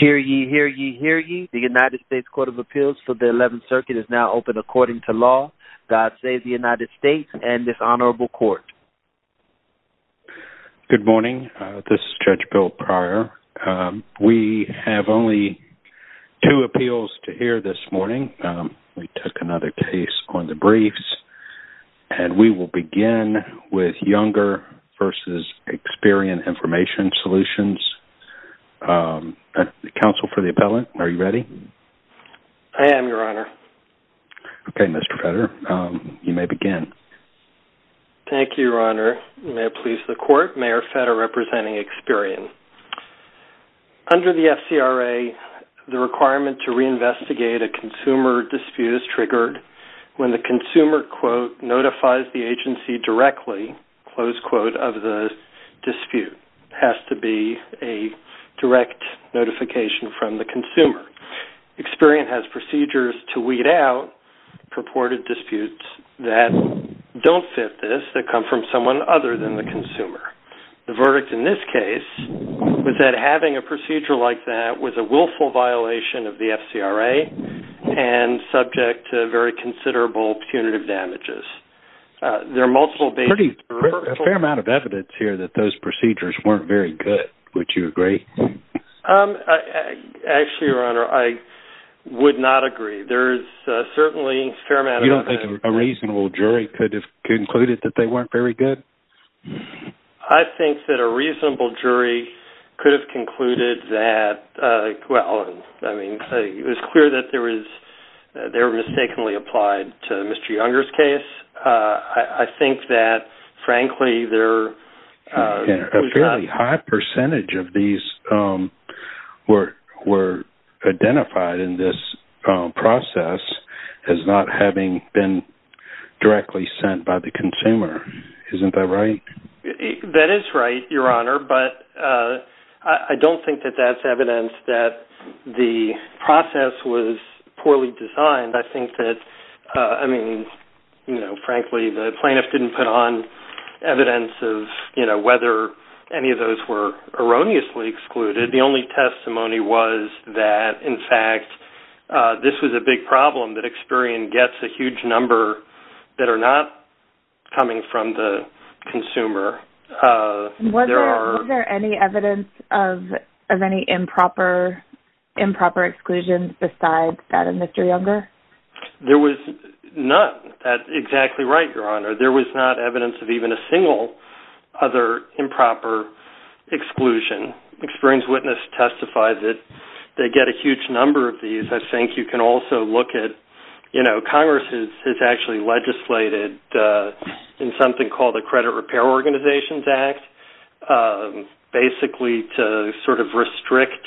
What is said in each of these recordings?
Hear ye, hear ye, hear ye. The United States Court of Appeals for the 11th Circuit is now open according to law. God save the United States and this honorable court. Good morning. This is Judge Bill Pryor. We have only two appeals to hear this morning. We took another case on the briefs, and we will begin with Younger v. Experian Information Solutions. Counsel for the appellant, are you ready? I am, Your Honor. Okay, Mr. Fetter, you may begin. Thank you, Your Honor. May it please the court, Mayor Fetter representing Experian. Under the FCRA, the requirement to reinvestigate a consumer dispute is triggered when the consumer notifies the agency directly of the dispute. It has to be a direct notification from the consumer. Experian has procedures to weed out purported disputes that don't fit this, that come from someone other than the consumer. The verdict in this case was that having a procedure like that was a willful violation of the FCRA and subject to very considerable punitive damages. There are multiple bases. There's a fair amount of evidence here that those procedures weren't very good. Would you agree? Actually, Your Honor, I would not agree. There's certainly a fair amount of evidence. You don't think a reasonable jury could have concluded that they weren't very good? I think that a reasonable jury could have concluded that, well, I mean, it was clear that there was, they were mistakenly applied to Mr. Younger's case. I think that, frankly, there... A fairly high percentage of these were identified in this process as not having been sent by the consumer. Isn't that right? That is right, Your Honor, but I don't think that that's evidence that the process was poorly designed. I think that, I mean, you know, frankly, the plaintiff didn't put on evidence of, you know, whether any of those were erroneously excluded. The only testimony was that, in fact, this was a big problem that Experian gets a huge number that are not coming from the consumer. Was there any evidence of any improper exclusions besides that of Mr. Younger? There was none. That's exactly right, Your Honor. There was not evidence of even a single other improper exclusion. Experian's witness testified that they get a huge number of these. I think you can also look at, you know, Congress has actually legislated in something called the Credit Repair Organizations Act, basically to sort of restrict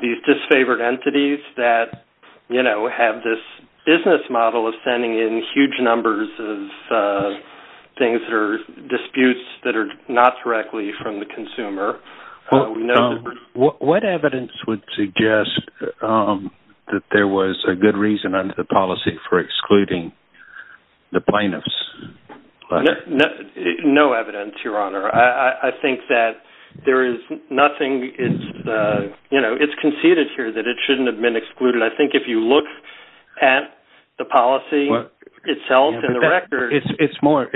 these disfavored entities that, you know, have this business model of sending in huge numbers of things or disputes that are not directly from the consumer. What evidence would suggest that there was a good reason under the policy for excluding the plaintiffs? No evidence, Your Honor. I think that there is nothing, you know, it's conceded here that it shouldn't have been excluded. I think if you look at the policy itself and the records... It's more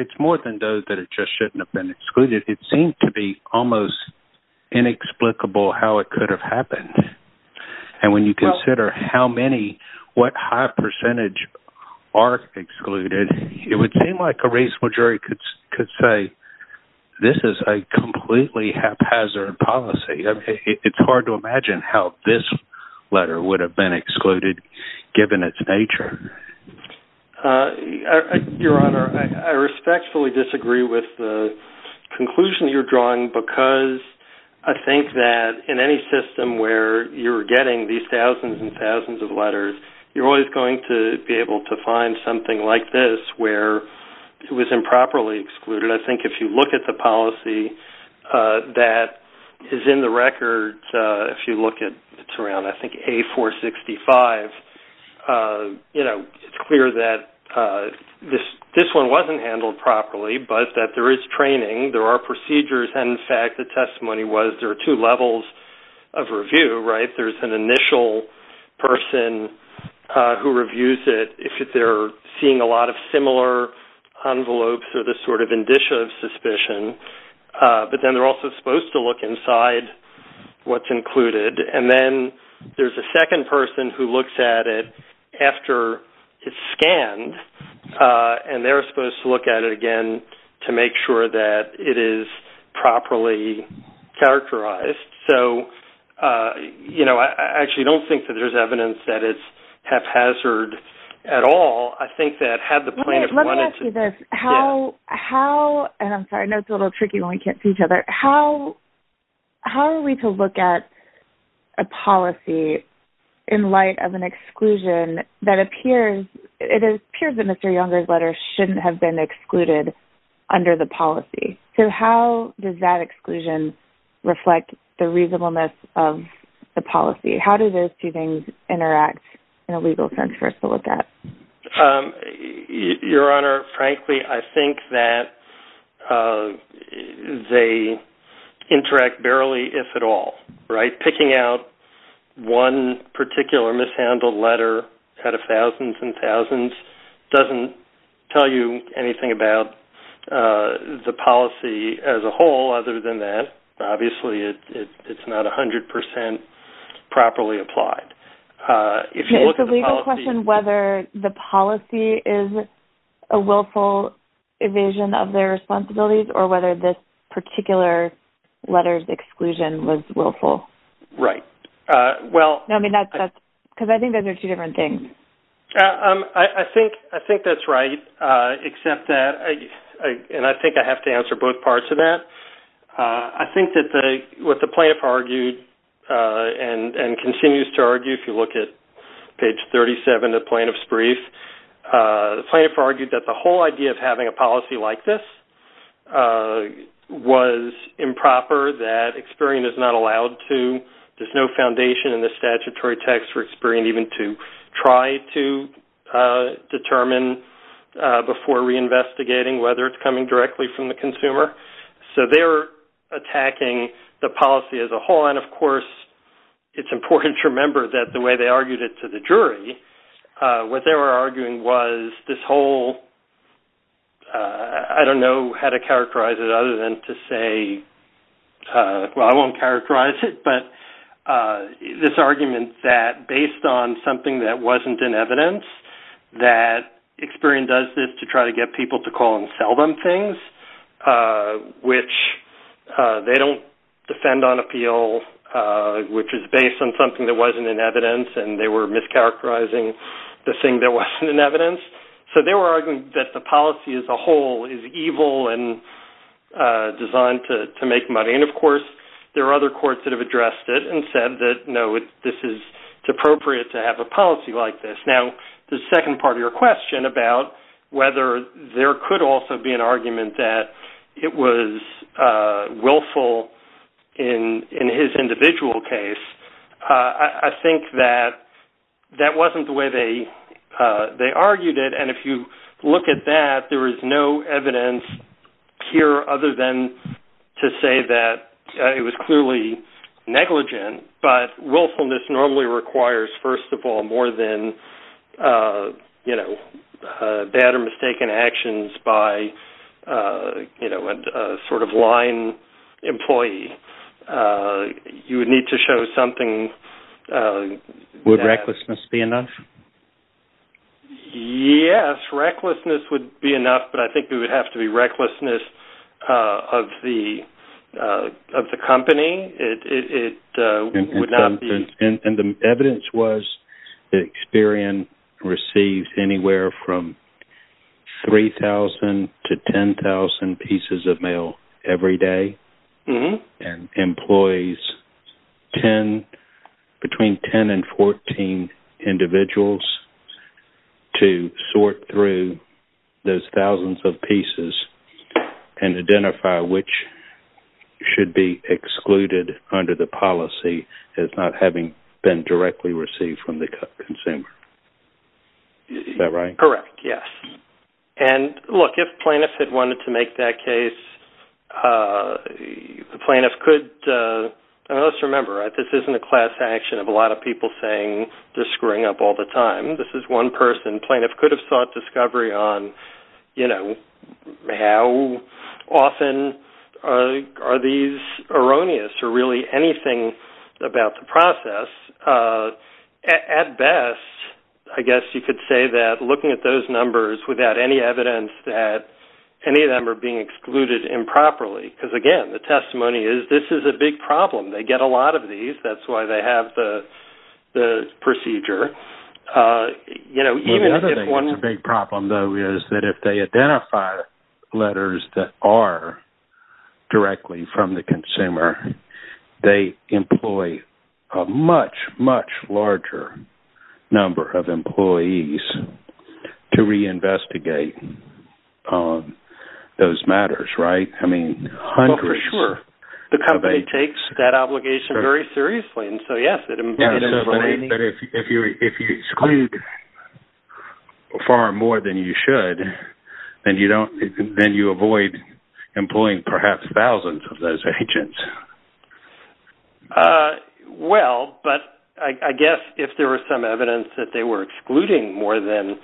than those that it just shouldn't have been excluded. It seemed to be almost inexplicable how it could have happened. And when you consider how many, what high percentage are excluded, it would seem like a reasonable jury could say, this is a completely haphazard policy. It's hard to imagine how this letter would have been drawn because I think that in any system where you're getting these thousands and thousands of letters, you're always going to be able to find something like this where it was improperly excluded. I think if you look at the policy that is in the records, if you look at, it's around, I think, A465, you know, it's clear that this one wasn't handled properly, but that there is training, there are procedures, and in fact, the testimony was there are two levels of review, right? There's an initial person who reviews it if they're seeing a lot of similar envelopes or this sort of indicia of suspicion, but then they're also supposed to look inside what's included. And then there's a second person who looks at it after it's scanned, and they're supposed to look at it again to make sure that it is properly characterized. So, you know, I actually don't think that there's evidence that it's haphazard at all. I think that had the plaintiff wanted to... Let me ask you this. How, and I'm sorry, I know it's a little tricky when we can't see each other. How are we to look at a policy in light of an exclusion that appears, it appears that Mr. Younger's letter shouldn't have been excluded under the policy. So how does that exclusion reflect the reasonableness of the policy? How do those two things interact in a legal sense for us to look at? Your Honor, frankly, I think that they interact barely, if at all, right? Picking out one particular mishandled letter out of thousands and thousands doesn't tell you anything about the policy as a whole other than that. Obviously, it's not 100% properly applied. It's a legal question whether the policy is a willful evasion of their responsibilities or this particular letter's exclusion was willful. Right. Well... No, I mean that's... Because I think those are two different things. I think that's right, except that, and I think I have to answer both parts of that. I think that what the plaintiff argued and continues to argue, if you look at page 37 of the plaintiff's brief, the plaintiff argued that the whole idea of having a policy like this was improper, that experience is not allowed to... There's no foundation in the statutory text for experience even to try to determine before reinvestigating whether it's coming directly from the consumer. So they're attacking the policy as a whole. And of course, it's important to remember that the way they argued it to the jury, what they were arguing was this whole... I don't know how to characterize it other than to say, well, I won't characterize it, but this argument that based on something that wasn't in evidence, that Experian does this to try to get people to call and sell them things, which they don't defend on appeal, which is based on something that wasn't in evidence, and they were mischaracterizing the thing that wasn't in evidence. So they were arguing that the policy as a whole is evil and designed to make money. And of course, there are other courts that have addressed it and said that, no, it's appropriate to have a policy like this. Now, the second part of your question about whether there could also be an argument that it was willful in his individual case, I think that that wasn't the way they argued it. And if you look at that, there is no evidence here other than to say that it was clearly negligent. But willfulness normally requires, first of all, more than bad or mistaken actions by a sort of lying employee. You would need to show something... Would recklessness be enough? Yes, recklessness would be enough, but I think it would have to be recklessness of the company. It would not be... And the evidence was that Experian receives anywhere from 3,000 to 10,000 pieces of mail every day and employs between 10 and 14 individuals to sort through those thousands of pieces. And identify which should be excluded under the policy as not having been directly received from the consumer. Is that right? Correct, yes. And look, if plaintiffs had wanted to make that case, the plaintiffs could... Let's remember, this isn't a class action of a lot of people saying they're screwing up all the time. This is one person. Plaintiffs could have sought discovery on how often are these erroneous or really anything about the process. At best, I guess you could say that looking at those numbers without any evidence that any of them are being excluded improperly, because again, the testimony is this is a big problem. They get a lot of these. That's why they have the procedure. Even if one... That if they identify letters that are directly from the consumer, they employ a much, much larger number of employees to reinvestigate those matters, right? I mean, hundreds... Well, for sure. The company takes that obligation very seriously. And so, yes, it is... But if you exclude far more than you should, then you avoid employing perhaps thousands of those agents. Well, but I guess if there were some evidence that they were excluding more than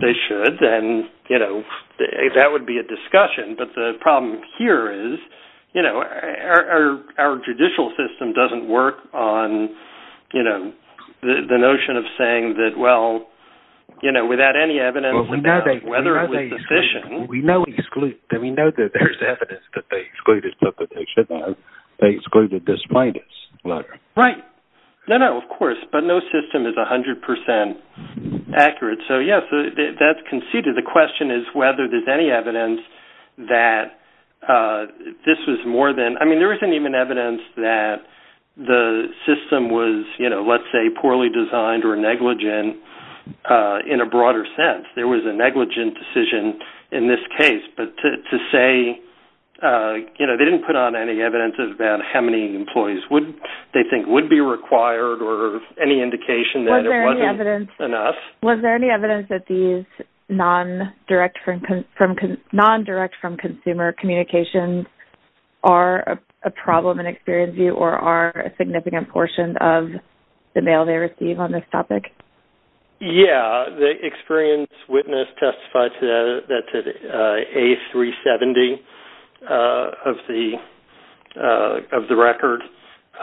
they should, then that would be a discussion. But the problem here is our judicial system doesn't work on the notion of saying that, well, without any evidence, whether it was sufficient... We know they exclude. We know that there's evidence that they excluded, but they excluded this plaintiff's letter. Right. No, no, of course. But no system is 100% accurate. So, yes, that's conceded. The question is whether there's any evidence that this was more than... I mean, there isn't even evidence that the system was, let's say, poorly designed or negligent in a broader sense. There was a negligent decision in this case. But to say... They didn't put on any evidence about how many employees they think would be required or any indication that it wasn't enough. Was there any evidence that these non-direct from consumer communications are a problem in Experian's view or are a significant portion of the mail they receive on this topic? Yeah. The Experian's witness testified to a 370 of the record.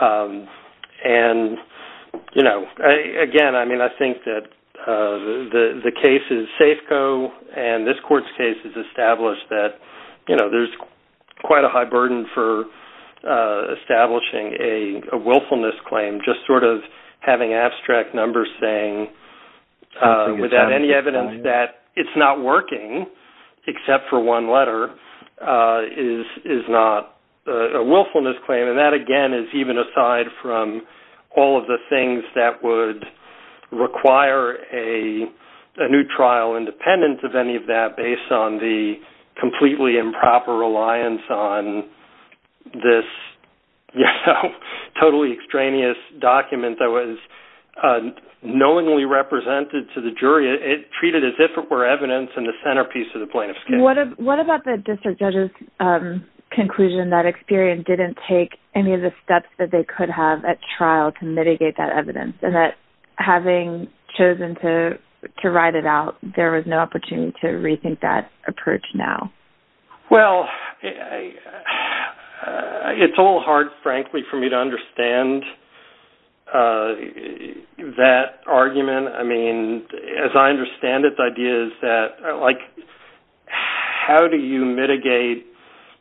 And again, I mean, I think that the cases Safeco and this court's case has established that there's quite a high burden for establishing a willfulness claim, just sort of having abstract numbers saying without any evidence that it's not working except for one letter is not a willfulness claim. And that, again, is even aside from all of the things that would require a new trial independent of any of that based on the completely improper reliance on this totally extraneous document that was knowingly represented to the jury. It treated as if it were evidence in the centerpiece of the plaintiff's case. What about the district judge's conclusion that Experian didn't take any of the steps that they could have at trial to mitigate that evidence and that having chosen to write it out, there was no opportunity to It's a little hard, frankly, for me to understand that argument. I mean, as I understand it, the idea is that, like, how do you mitigate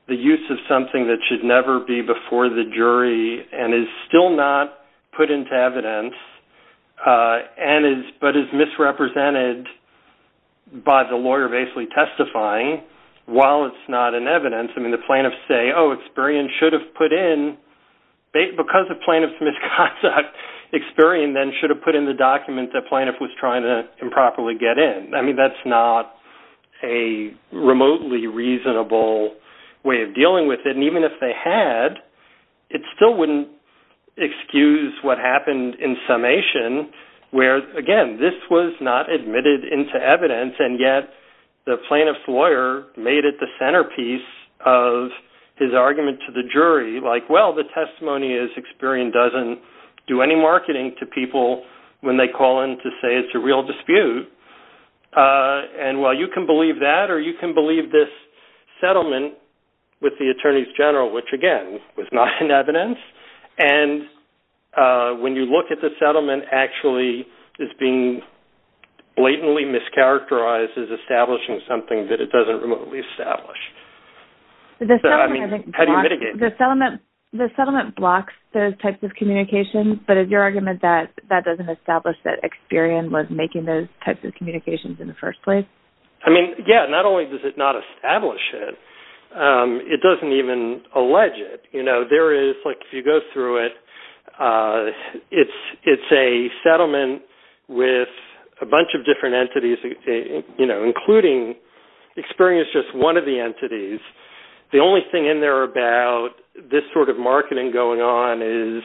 the use of something that should never be before the jury and is still not put into evidence but is misrepresented by the lawyer basically testifying while it's not in evidence? I mean, plaintiffs say, oh, Experian should have put in, because of plaintiff's misconduct, Experian then should have put in the document that the plaintiff was trying to improperly get in. I mean, that's not a remotely reasonable way of dealing with it. And even if they had, it still wouldn't excuse what happened in summation where, again, this was not admitted into evidence and yet the plaintiff's lawyer made it the centerpiece of his argument to the jury, like, well, the testimony is Experian doesn't do any marketing to people when they call in to say it's a real dispute. And, well, you can believe that or you can believe this settlement with the attorneys general, which, again, was not in evidence. And when you look at the settlement actually it's being blatantly mischaracterized as establishing something that it doesn't remotely establish. So, I mean, how do you mitigate? The settlement blocks those types of communications, but is your argument that that doesn't establish that Experian was making those types of communications in the first place? I mean, yeah, not only does it not establish it, it doesn't even allege it. You know, there is, like, if you go through it, it's a settlement with a bunch of different entities, you know, including Experian is just one of the entities. The only thing in there about this sort of marketing going on is,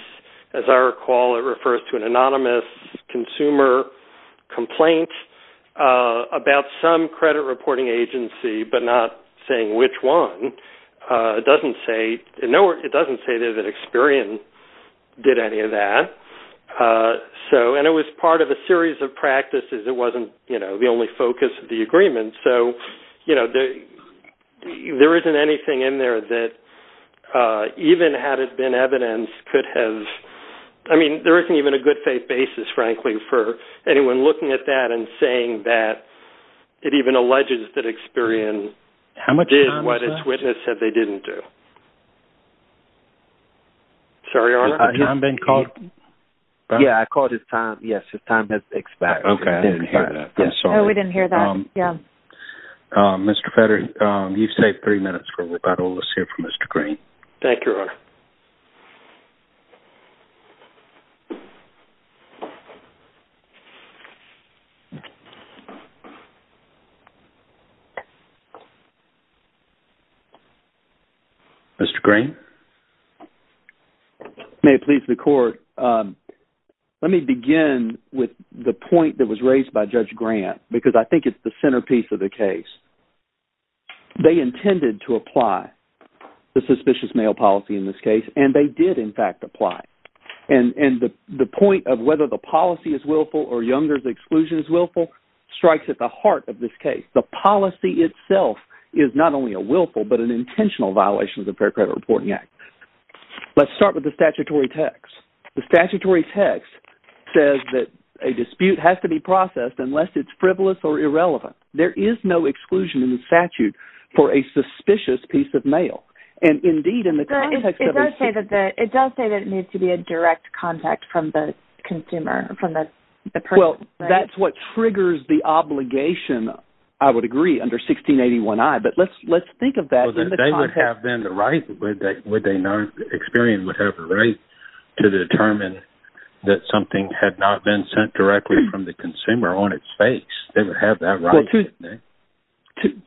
as I recall, it refers to an anonymous consumer complaint about some credit reporting agency, but not saying which one. It doesn't say that Experian did any of that. So, and it was part of a series of practices. It wasn't, you know, the only focus of the agreement. So, you know, there isn't anything in there that even had it been evidence could have, I mean, there isn't even a good faith basis, frankly, for anyone looking at that and saying that it even alleges that Experian did what its witness said they didn't do. Sorry, Your Honor. I hear him being called. Yeah, I called his time. Yes, his time has expired. Okay. I didn't hear that. I'm sorry. No, we didn't hear that. Yeah. Mr. Fetter, you've saved three minutes for rebuttal. Let's hear from Mr. Green. Thank you, Your Honor. Mr. Green. May it please the Court, let me begin with the point that was raised by Judge Grant, because I think it's the centerpiece of the case. They intended to apply the suspicious mail policy in this case, and they did, in fact, apply. And the point of whether the policy is willful or Younger's exclusion is willful strikes at the heart of this case. The policy itself is not only a willful but an intentional violation of the Fair Credit Reporting Act. Let's start with the statutory text. The statutory text says that a dispute has to be processed unless it's frivolous or irrelevant. There is no exclusion in the statute for a suspicious piece of mail. And indeed, in the context of... It does say that it needs to be a direct contact from the consumer, from the person. Well, that's what triggers the obligation, I would agree, under 1681I. But let's think of that. Well, they would have then the right, would they not? Experian would have the right to determine that something had not been sent directly from the consumer on its face. They would have that right.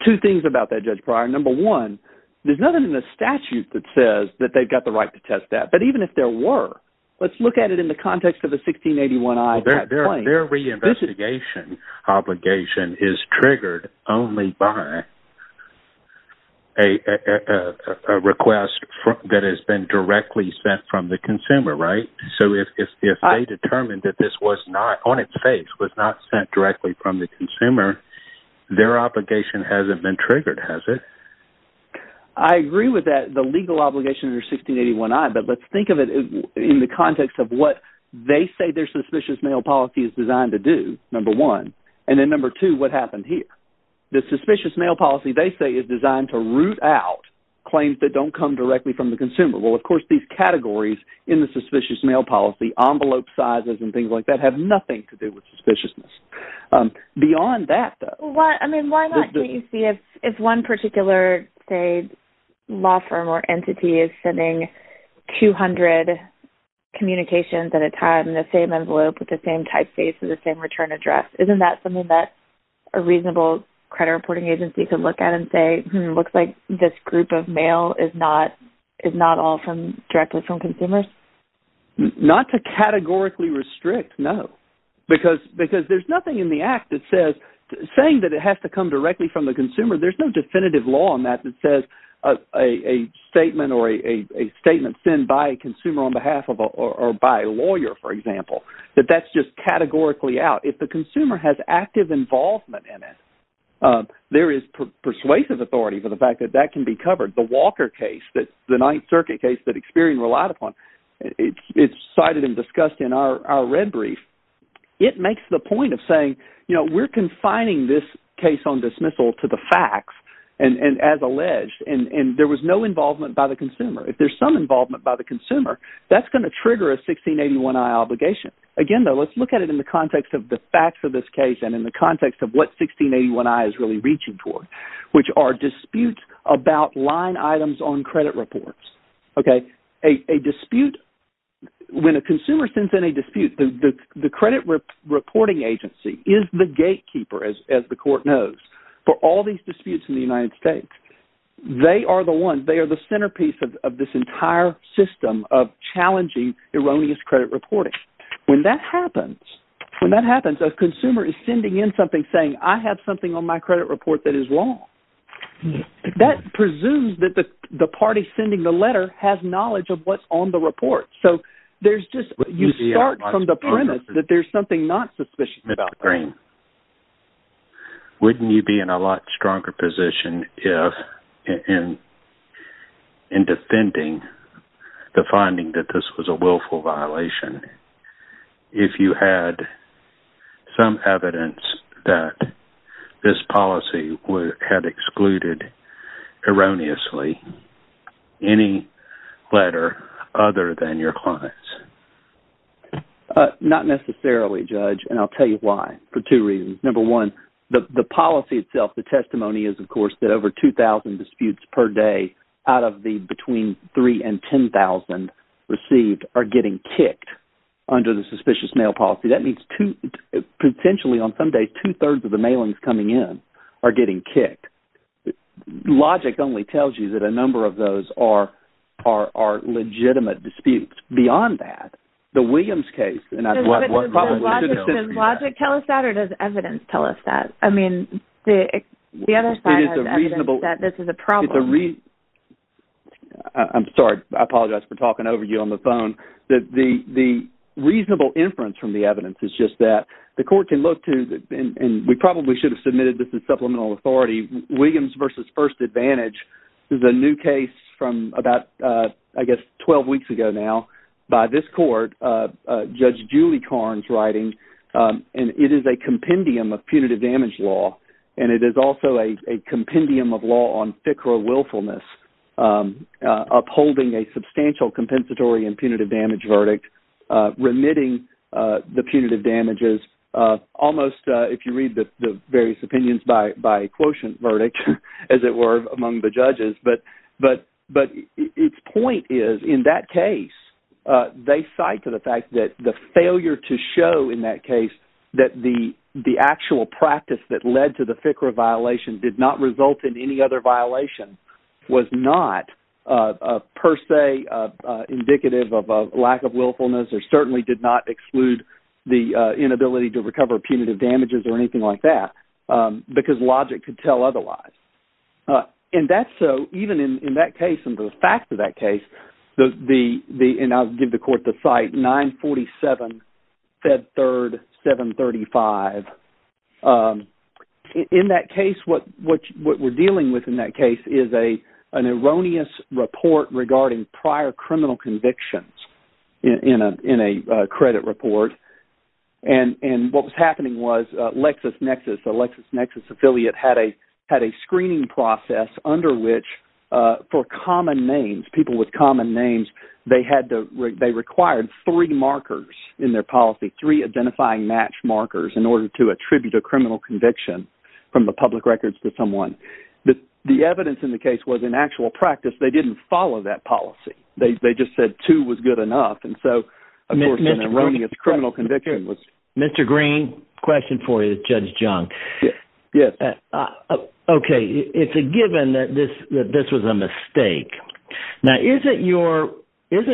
Two things about that, Judge Pryor. Number one, there's nothing in the statute that says that they've got the right to test that. But even if there were, let's look at it in the context of the 1681I. Their reinvestigation obligation is triggered only by a request that has been directly sent from the consumer, right? So if they determined that this was not, on its face, was not sent directly from the consumer, their obligation hasn't been triggered, has it? I agree with that, the legal obligation under 1681I. But let's think of it in the context of what they say their suspicious mail policy is designed to do, number one. And then number two, what happened here? The suspicious mail policy, they say, is designed to root out claims that don't come directly from the consumer. Well, of course, these categories in the suspicious mail policy, envelope sizes and things like that, have nothing to do with suspiciousness. Beyond that, though... Well, I mean, why not, can't you see if one particular, say, law firm or entity is sending 200 communications at a time in the same envelope with the same typeface and the same return address, isn't that something that a reasonable credit reporting agency could look at and say, looks like this group of mail is not all from, directly from consumers? Not to categorically restrict, no. Because there's nothing in the act that says, saying that it has to come directly from the consumer, there's no definitive law on that that says a statement or a statement sent by a consumer on behalf of or by a lawyer, for example, that that's just categorically out. If the consumer has active involvement in it, there is persuasive authority for the fact that that can be covered. The Walker case, the Ninth Circuit case that Experian relied upon, it's cited and discussed in our red brief. It makes the point of saying, we're confining this case on dismissal to the facts and as alleged, and there was no involvement by the consumer. If there's some involvement by the consumer, that's going to trigger a 1681i obligation. Again, though, let's look at it in the context of the facts of this case and in the context of what 1681i is really reaching toward, which are disputes about line items on credit reports. Okay? A dispute, when a consumer sends in a dispute, the credit reporting agency is the gatekeeper, as the court knows, for all these disputes in the United States. They are the ones, they are the centerpiece of this entire system of challenging erroneous credit reporting. When that happens, when that happens, a consumer is sending in something saying, I have something on my credit report that is wrong. That presumes that the party sending the letter has knowledge of what's on the report. So there's just, you start from the premise that there's something not suspicious about that. Wouldn't you be in a lot stronger position in defending the finding that this was a willful violation if you had some evidence that this policy had excluded erroneously any letter other than your client's? Not necessarily, Judge. And I'll tell you why, for two reasons. Number one, the policy itself, the testimony is, of course, that over 2,000 disputes per day out of the between 3,000 and 10,000 received are getting kicked under the suspicious mail policy. That means potentially on Sunday, two-thirds of the mailings coming in are getting kicked. The logic only tells you that a number of those are legitimate disputes. Beyond that, the Williams case... Does logic tell us that or does evidence tell us that? I mean, the other side has evidence that this is a problem. I'm sorry. I apologize for talking over you on the phone. The reasonable inference from the evidence is just that the court can look to, and we probably should have submitted this supplemental authority. Williams v. First Advantage is a new case from about, I guess, 12 weeks ago now by this court, Judge Julie Karnes writing, and it is a compendium of punitive damage law, and it is also a compendium of law on FICRA willfulness, upholding a substantial compensatory and punitive damage verdict, remitting the punitive damages, almost, if you read the various opinions by quotient verdict, as it were, among the judges, but its point is in that case, they cite to the fact that the failure to show in that case that the actual practice that led to the FICRA violation did not result in any other violation was not per se indicative of a lack of willfulness or certainly did not exclude the inability to recover punitive damages or anything like that because logic could tell otherwise, and that's so even in that case and the fact of that case, and I'll give the court to cite 947 Fed Third 735. In that case, what we're dealing with in that case is an erroneous report regarding prior criminal convictions in a credit report, and what was happening was LexisNexis, the LexisNexis affiliate had a screening process under which for common names, people with common names, they required three markers in their policy, three identifying match markers in order to attribute a criminal conviction from the public records to someone. The evidence in the case was in actual practice, they didn't follow that policy. They just said two was good enough, and so, of course, an erroneous criminal conviction was... Mr. Green, question for you, Judge Jung. Yes. Okay, it's a given that this was a mistake. Now, isn't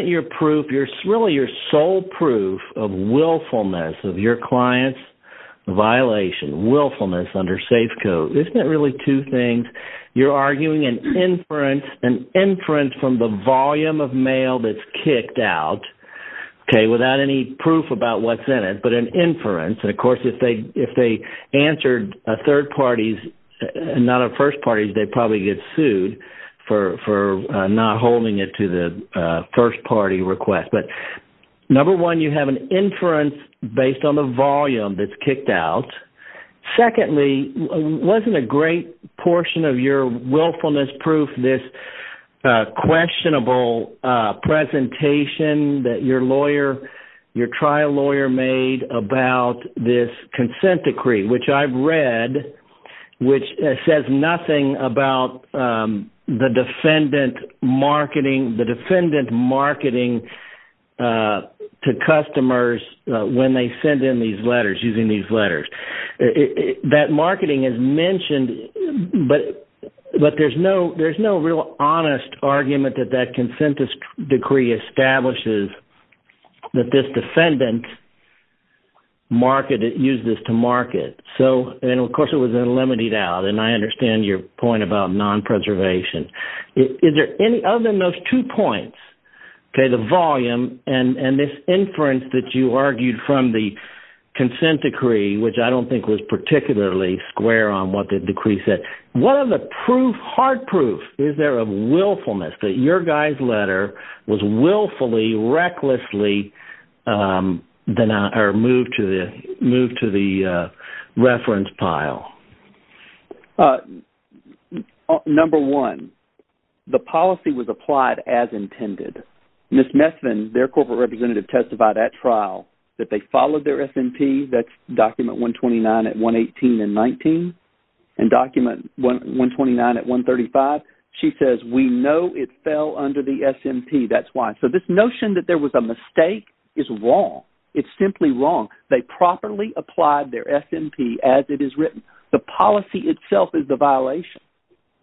your proof, really your sole proof of willfulness of your client's violation, willfulness under safe code, isn't it really two things? You're arguing an inference from the volume of mail that's kicked out, okay, without any proof about what's in it, but an inference, and of course, if they answered a third party's, not a first party's, they'd probably get sued for not holding it to the first party request, but number one, you have an inference based on the volume that's kicked out. Secondly, wasn't a great portion of your willfulness proof this questionable presentation that your lawyer, your trial lawyer made about this consent decree, which I've read, which says nothing about the defendant marketing, the defendant marketing to customers when they send in these letters, using these letters. That marketing is mentioned, but there's no real honest argument that that consent decree establishes that this defendant used this to market, and of course, it was limited out, and I understand your point about non-preservation. Other than those two points, okay, the volume and this inference that you argued from the consent decree, which I don't think was particularly square on what the decree said, what are the proof, hard proof, is there of willfulness, that your guy's letter was willfully, recklessly moved to the reference pile? Number one, the policy was applied as intended. Ms. Messvin, their corporate representative, testified at trial that they followed their S&P, that's document 129 at 118 and 19, and document 129 at 135. She says, we know it fell under the S&P, that's why. So this notion that there was a mistake is wrong. It's simply wrong. They properly applied their S&P as it is written. The policy itself is the violation,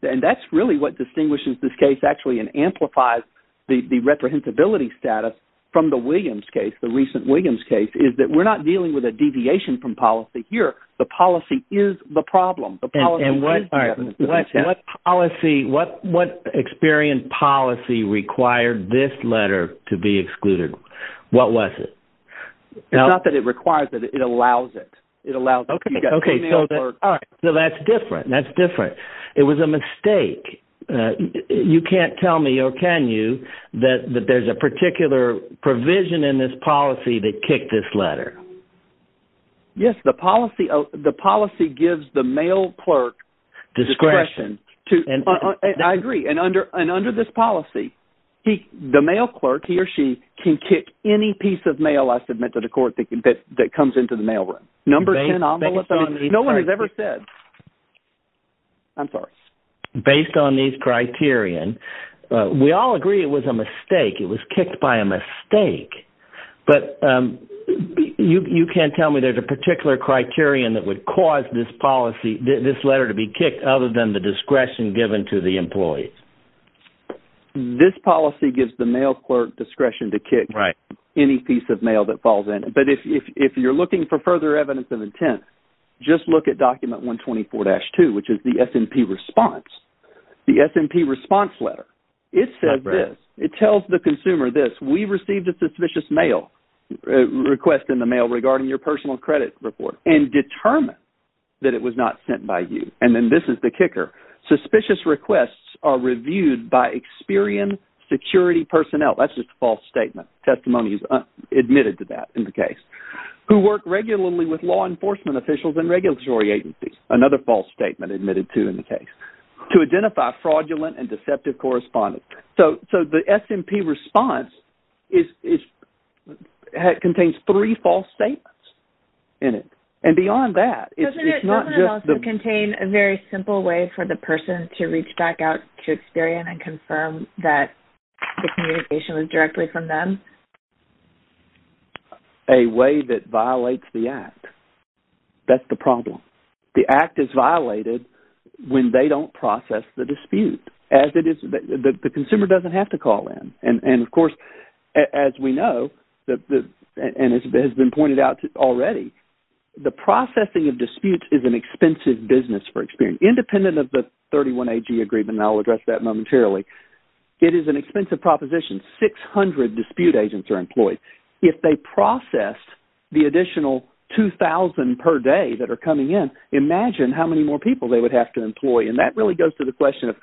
and that's really what distinguishes this case actually and amplifies the reprehensibility status from the Williams case, the recent Williams case, is that we're not dealing with a deviation from policy here. The policy is the problem. What experience policy required this letter to be excluded? What was it? It's not that it requires it, it allows it. So that's different. It was a mistake. You can't tell me, or can you, that there's a particular provision in this policy that kicked this letter? Yes, the policy gives the mail clerk discretion. I agree. And under this policy, the mail clerk, he or she, can kick any piece of mail I submit to the court that comes into the mailroom. No one has ever said. I'm sorry. Based on these criterion, we all agree it was a mistake. It was kicked by a mistake. But you can't tell me there's a particular criterion that would cause this letter to be kicked other than the discretion given to the employees. This policy gives the mail clerk discretion to kick any piece of mail that falls in. But if you're looking for further evidence of intent, just look at document 124-2, which is the response letter. It says this. It tells the consumer this, we received a suspicious mail, request in the mail regarding your personal credit report, and determined that it was not sent by you. And then this is the kicker. Suspicious requests are reviewed by Experian security personnel. That's just a false statement. Testimony is admitted to that in the case. Who work regularly with law enforcement officials and regulatory agencies. Another false statement in the case. To identify fraudulent and deceptive correspondence. So the S&P response contains three false statements in it. And beyond that, it's not just... Doesn't it also contain a very simple way for the person to reach back out to Experian and confirm that the communication was directly from them? A way that violates the act. That's the problem. The act is violated when they don't process the dispute. The consumer doesn't have to call in. And of course, as we know, and it has been pointed out already, the processing of disputes is an expensive business for Experian. Independent of the 31AG agreement, and I'll address that momentarily, it is an expensive proposition. 600 dispute agents are employed. If they process the additional 2,000 per day that are coming in, imagine how many more people they would have to employ. And that really goes to the question of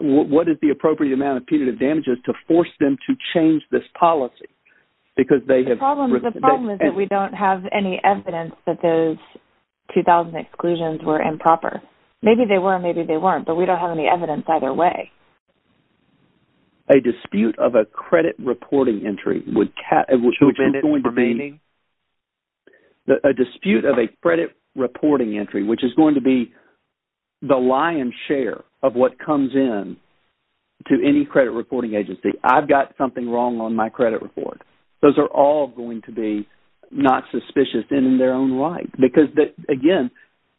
what is the appropriate amount of punitive damages to force them to change this policy? Because they have... The problem is that we don't have any evidence that those 2,000 exclusions were improper. Maybe they were, maybe they weren't, but we don't have evidence either way. A dispute of a credit reporting entry, a dispute of a credit reporting entry, which is going to be the lion's share of what comes in to any credit reporting agency. I've got something wrong on my credit report. Those are all going to be not suspicious in their own right. Because, again,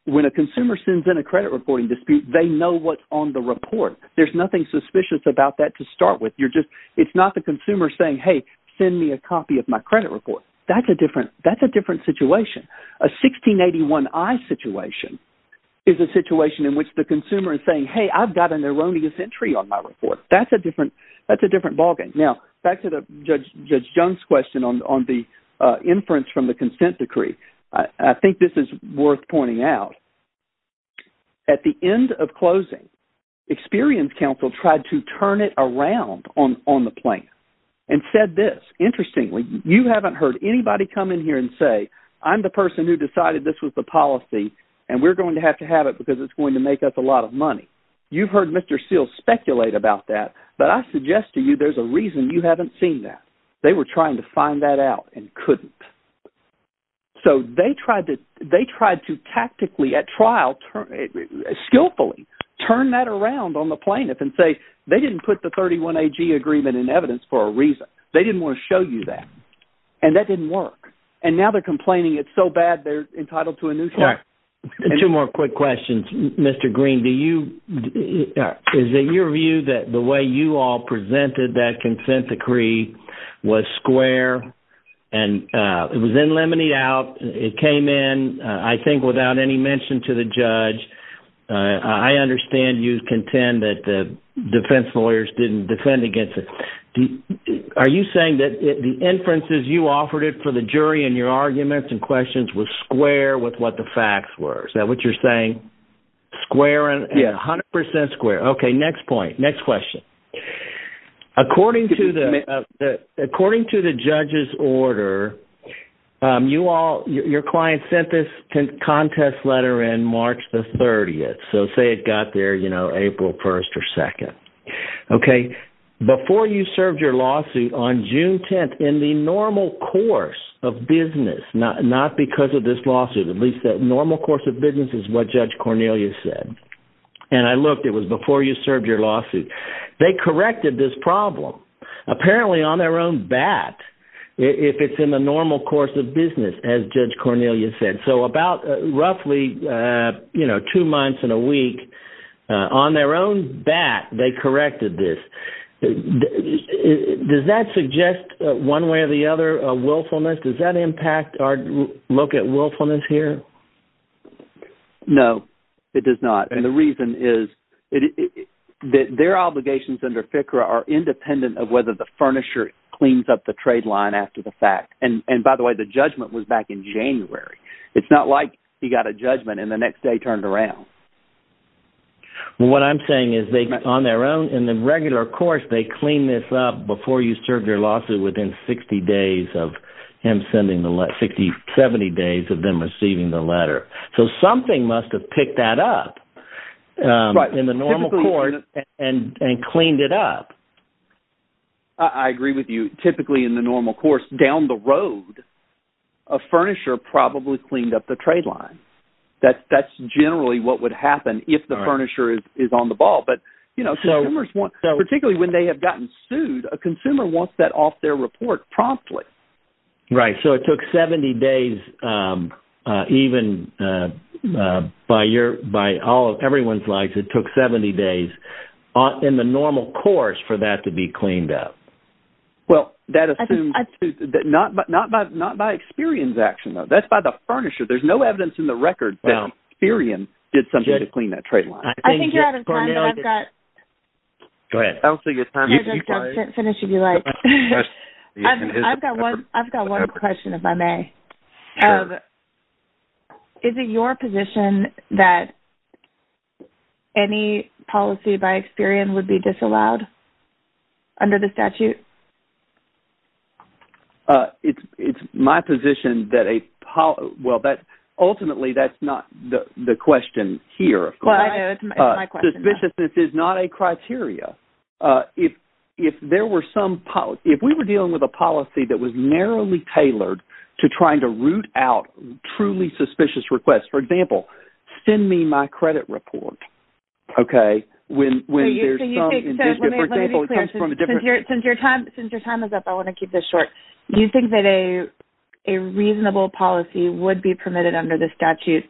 when a consumer sends in a credit reporting dispute, they know what's on the report. There's nothing suspicious about that to start with. You're just... It's not the consumer saying, hey, send me a copy of my credit report. That's a different situation. A 1681I situation is a situation in which the consumer is saying, hey, I've got an erroneous entry on my report. That's a different ballgame. Now, back to Judge Jones' question on the inference from the consent decree. I think this is worth pointing out. At the end of closing, Experience Council tried to turn it around on the plan and said this. Interestingly, you haven't heard anybody come in here and say, I'm the person who decided this was the policy, and we're going to have to have it because it's going to make us a lot of money. You've heard Mr. Seals speculate about that. But I suggest to you, there's a reason you haven't seen that. They were trying to find that out and couldn't. So, they tried to tactically at trial, skillfully, turn that around on the plaintiff and say, they didn't put the 31AG agreement in evidence for a reason. They didn't want to show you that. And that didn't work. And now they're complaining it's so bad, they're entitled to a new... All right. Two more quick questions. Mr. Green, do you... Is it your view that the way you all was square? And it was in lemonade out. It came in, I think, without any mention to the judge. I understand you contend that the defense lawyers didn't defend against it. Are you saying that the inferences you offered it for the jury and your arguments and questions was square with what the facts were? Is that what you're saying? Square and 100% square. Okay. Next point. Next question. According to the judge's order, you all, your client sent this contest letter in March the 30th. So, say it got there, you know, April 1st or 2nd. Okay. Before you served your lawsuit on June 10th in the normal course of business, not because of this lawsuit, at least that normal course of business is what Judge Cornelia said. Before you served your lawsuit, they corrected this problem. Apparently on their own bat, if it's in the normal course of business, as Judge Cornelia said. So, about roughly, you know, two months and a week on their own bat, they corrected this. Does that suggest one way or the other willfulness? Does that impact our look at willfulness here? No, it does not. And the reason is that their obligations under FCRA are independent of whether the furnisher cleans up the trade line after the fact. And by the way, the judgment was back in January. It's not like he got a judgment and the next day turned around. What I'm saying is they, on their own, in the regular course, they clean this up before you something must have picked that up in the normal course and cleaned it up. I agree with you. Typically, in the normal course, down the road, a furnisher probably cleaned up the trade line. That's generally what would happen if the furnisher is on the ball. But, you know, particularly when they have gotten sued, a consumer wants that off their report promptly. Right. So, it took 70 days, even by everyone's likes, it took 70 days in the normal course for that to be cleaned up. Well, that is not by Experian's action, though. That's by the furnisher. There's no evidence in the record that Experian did something to clean that trade line. I think you're out of time, but I've got... Go ahead. I don't think it's time to keep going. Finish if you like. I've got one question, if I may. Is it your position that any policy by Experian would be disallowed under the statute? It's my position that a... Well, ultimately, that's not the question here. Well, I know. It's my question. Suspiciousness is not a criteria. If there were some... If we were dealing with a policy that was narrowly tailored to trying to root out truly suspicious requests, for example, send me my credit report, okay, when there's some... Let me be clear. Since your time is up, I want to keep this short. Do you think that a reasonable policy would be permitted under the statute?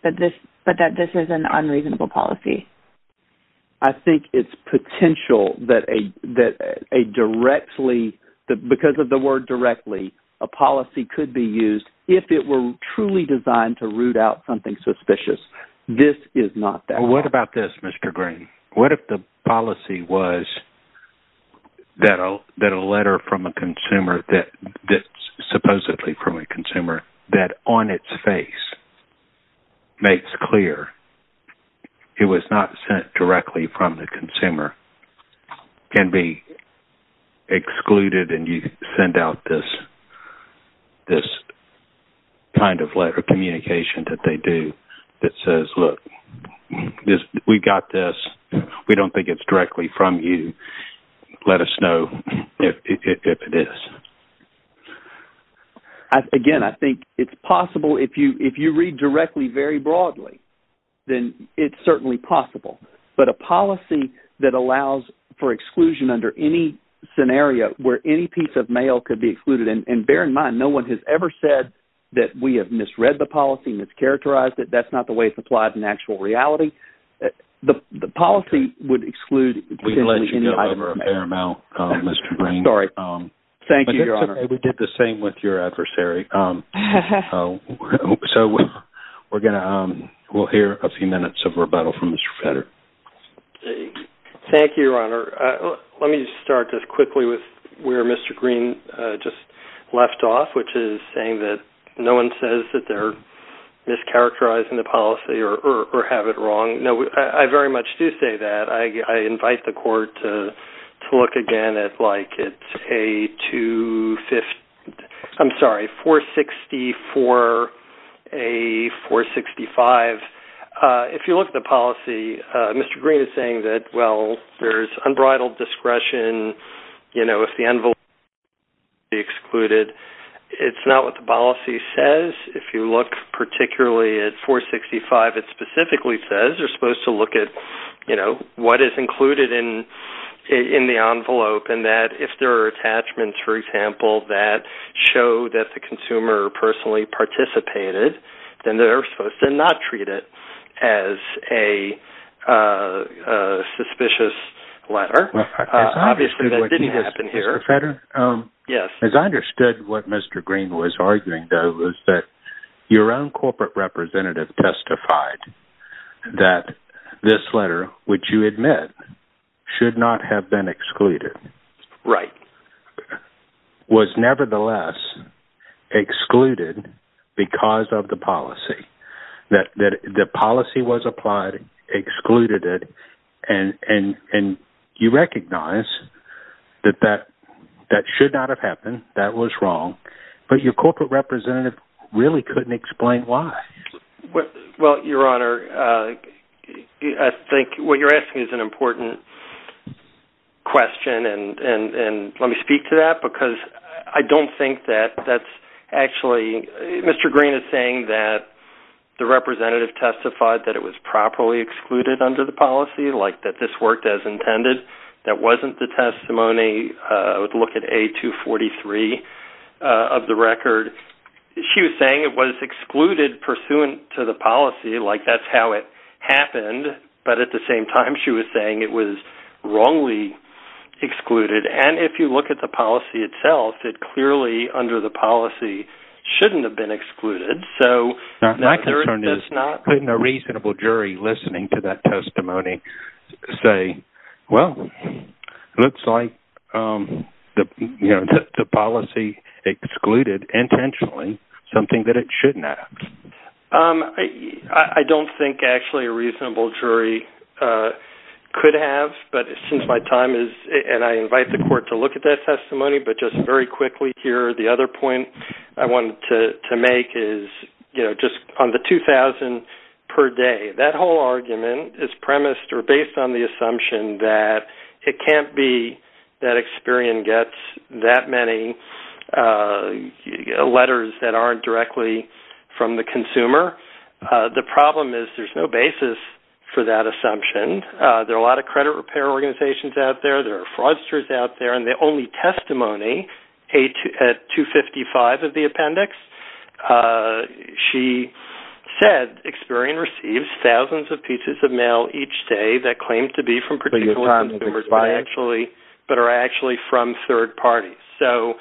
I think it's potential that a directly... Because of the word directly, a policy could be used if it were truly designed to root out something suspicious. This is not that. What about this, Mr. Green? What if the policy was that a letter from a consumer that's from the consumer can be excluded and you send out this kind of letter of communication that they do that says, look, we've got this. We don't think it's directly from you. Let us know if it is. Again, I think it's possible if you read directly very broadly, then it's certainly possible. But a policy that allows for exclusion under any scenario where any piece of mail could be excluded... And bear in mind, no one has ever said that we have misread the policy, mischaracterized it. That's not the way it's applied in actual reality. The policy would exclude... We let you go over a fair amount, Mr. Green. Sorry. Thank you, Your Honor. It's okay. We did the same with your adversary. So we're going to... We'll hear a few minutes of rebuttal from Mr. Fetter. Thank you, Your Honor. Let me start just quickly with where Mr. Green just left off, which is saying that no one says that they're mischaracterizing the policy or have it wrong. I very much do say that. I invite the court to look again at like it's a 250... I'm sorry, 460 for a 465. If you look at the policy, Mr. Green is saying that, well, there's unbridled discretion. If the envelope is excluded, it's not what the policy says. If you look particularly at 465, it specifically says you're supposed to look at what is included in the envelope and that if there are attachments, for example, that show that the consumer personally participated, then they're supposed to not treat it as a suspicious letter. Obviously, that didn't happen here. Mr. Fetter? Yes. As I understood what Mr. Green was arguing, though, was that your own corporate representative testified that this letter, which you admit should not have been excluded, was nevertheless excluded because of the policy. The policy was applied, excluded it, and you recognize that that should not have happened. That was wrong, but your corporate representative really couldn't explain why. Well, Your Honor, I think what you're asking is an important question, and let me speak to that because I don't think that that's actually... Mr. Green is saying that the representative testified that it was properly excluded under the policy, like that this worked as intended. That wasn't the testimony. I would look at A243 of the record. She was saying it was excluded pursuant to the policy, like that's how it happened, but at the same time, she was saying it was wrongly excluded. If you look at the policy itself, it clearly under the policy shouldn't have been excluded. My concern is putting a say, well, it looks like the policy excluded intentionally something that it shouldn't have. I don't think actually a reasonable jury could have, but since my time is... And I invite the court to look at that testimony, but just very quickly here, the other point I wanted to make is just on the 2,000 per day, that whole argument is premised or based on the assumption that it can't be that Experian gets that many letters that aren't directly from the consumer. The problem is there's no basis for that assumption. There are a lot of credit repair organizations out there. There are fraudsters out there, and the only testimony at 255 of the appendix, she said Experian receives thousands of pieces of mail each day that claim to be from particular consumers, but are actually from third parties. So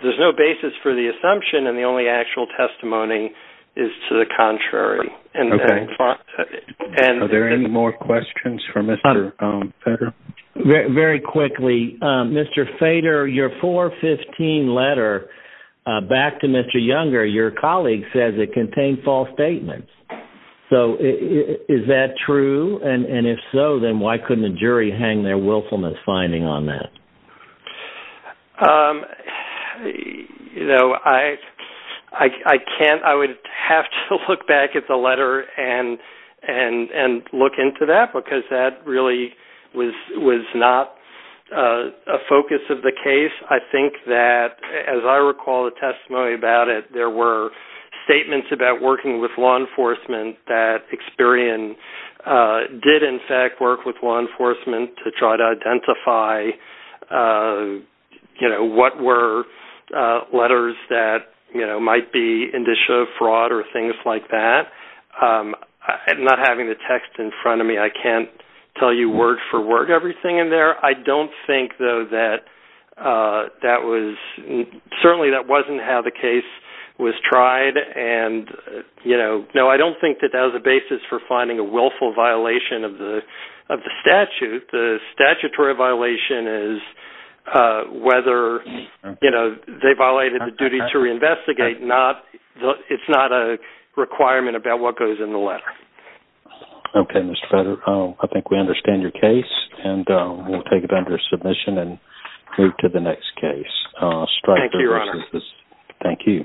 there's no basis for the assumption, and the only actual testimony is to the contrary. Okay. Are there any more questions for Mr. Fader? Very quickly, Mr. Fader, your 415 letter back to Mr. Younger, your colleague says it contained false statements. So is that true? And if so, then why couldn't the jury hang their and look into that because that really was not a focus of the case? I think that, as I recall the testimony about it, there were statements about working with law enforcement that Experian did, in fact, work with law enforcement to try to identify what were letters that might be indicia of fraud or things like that. I'm not having the text in front of me. I can't tell you word for word everything in there. I don't think though that certainly that wasn't how the case was tried. No, I don't think that that was a basis for the assumption. It's not a requirement about what goes in the letter. Okay, Mr. Fader. I think we understand your case, and we'll take it under submission and move to the next case. Thank you, Your Honor. Thank you.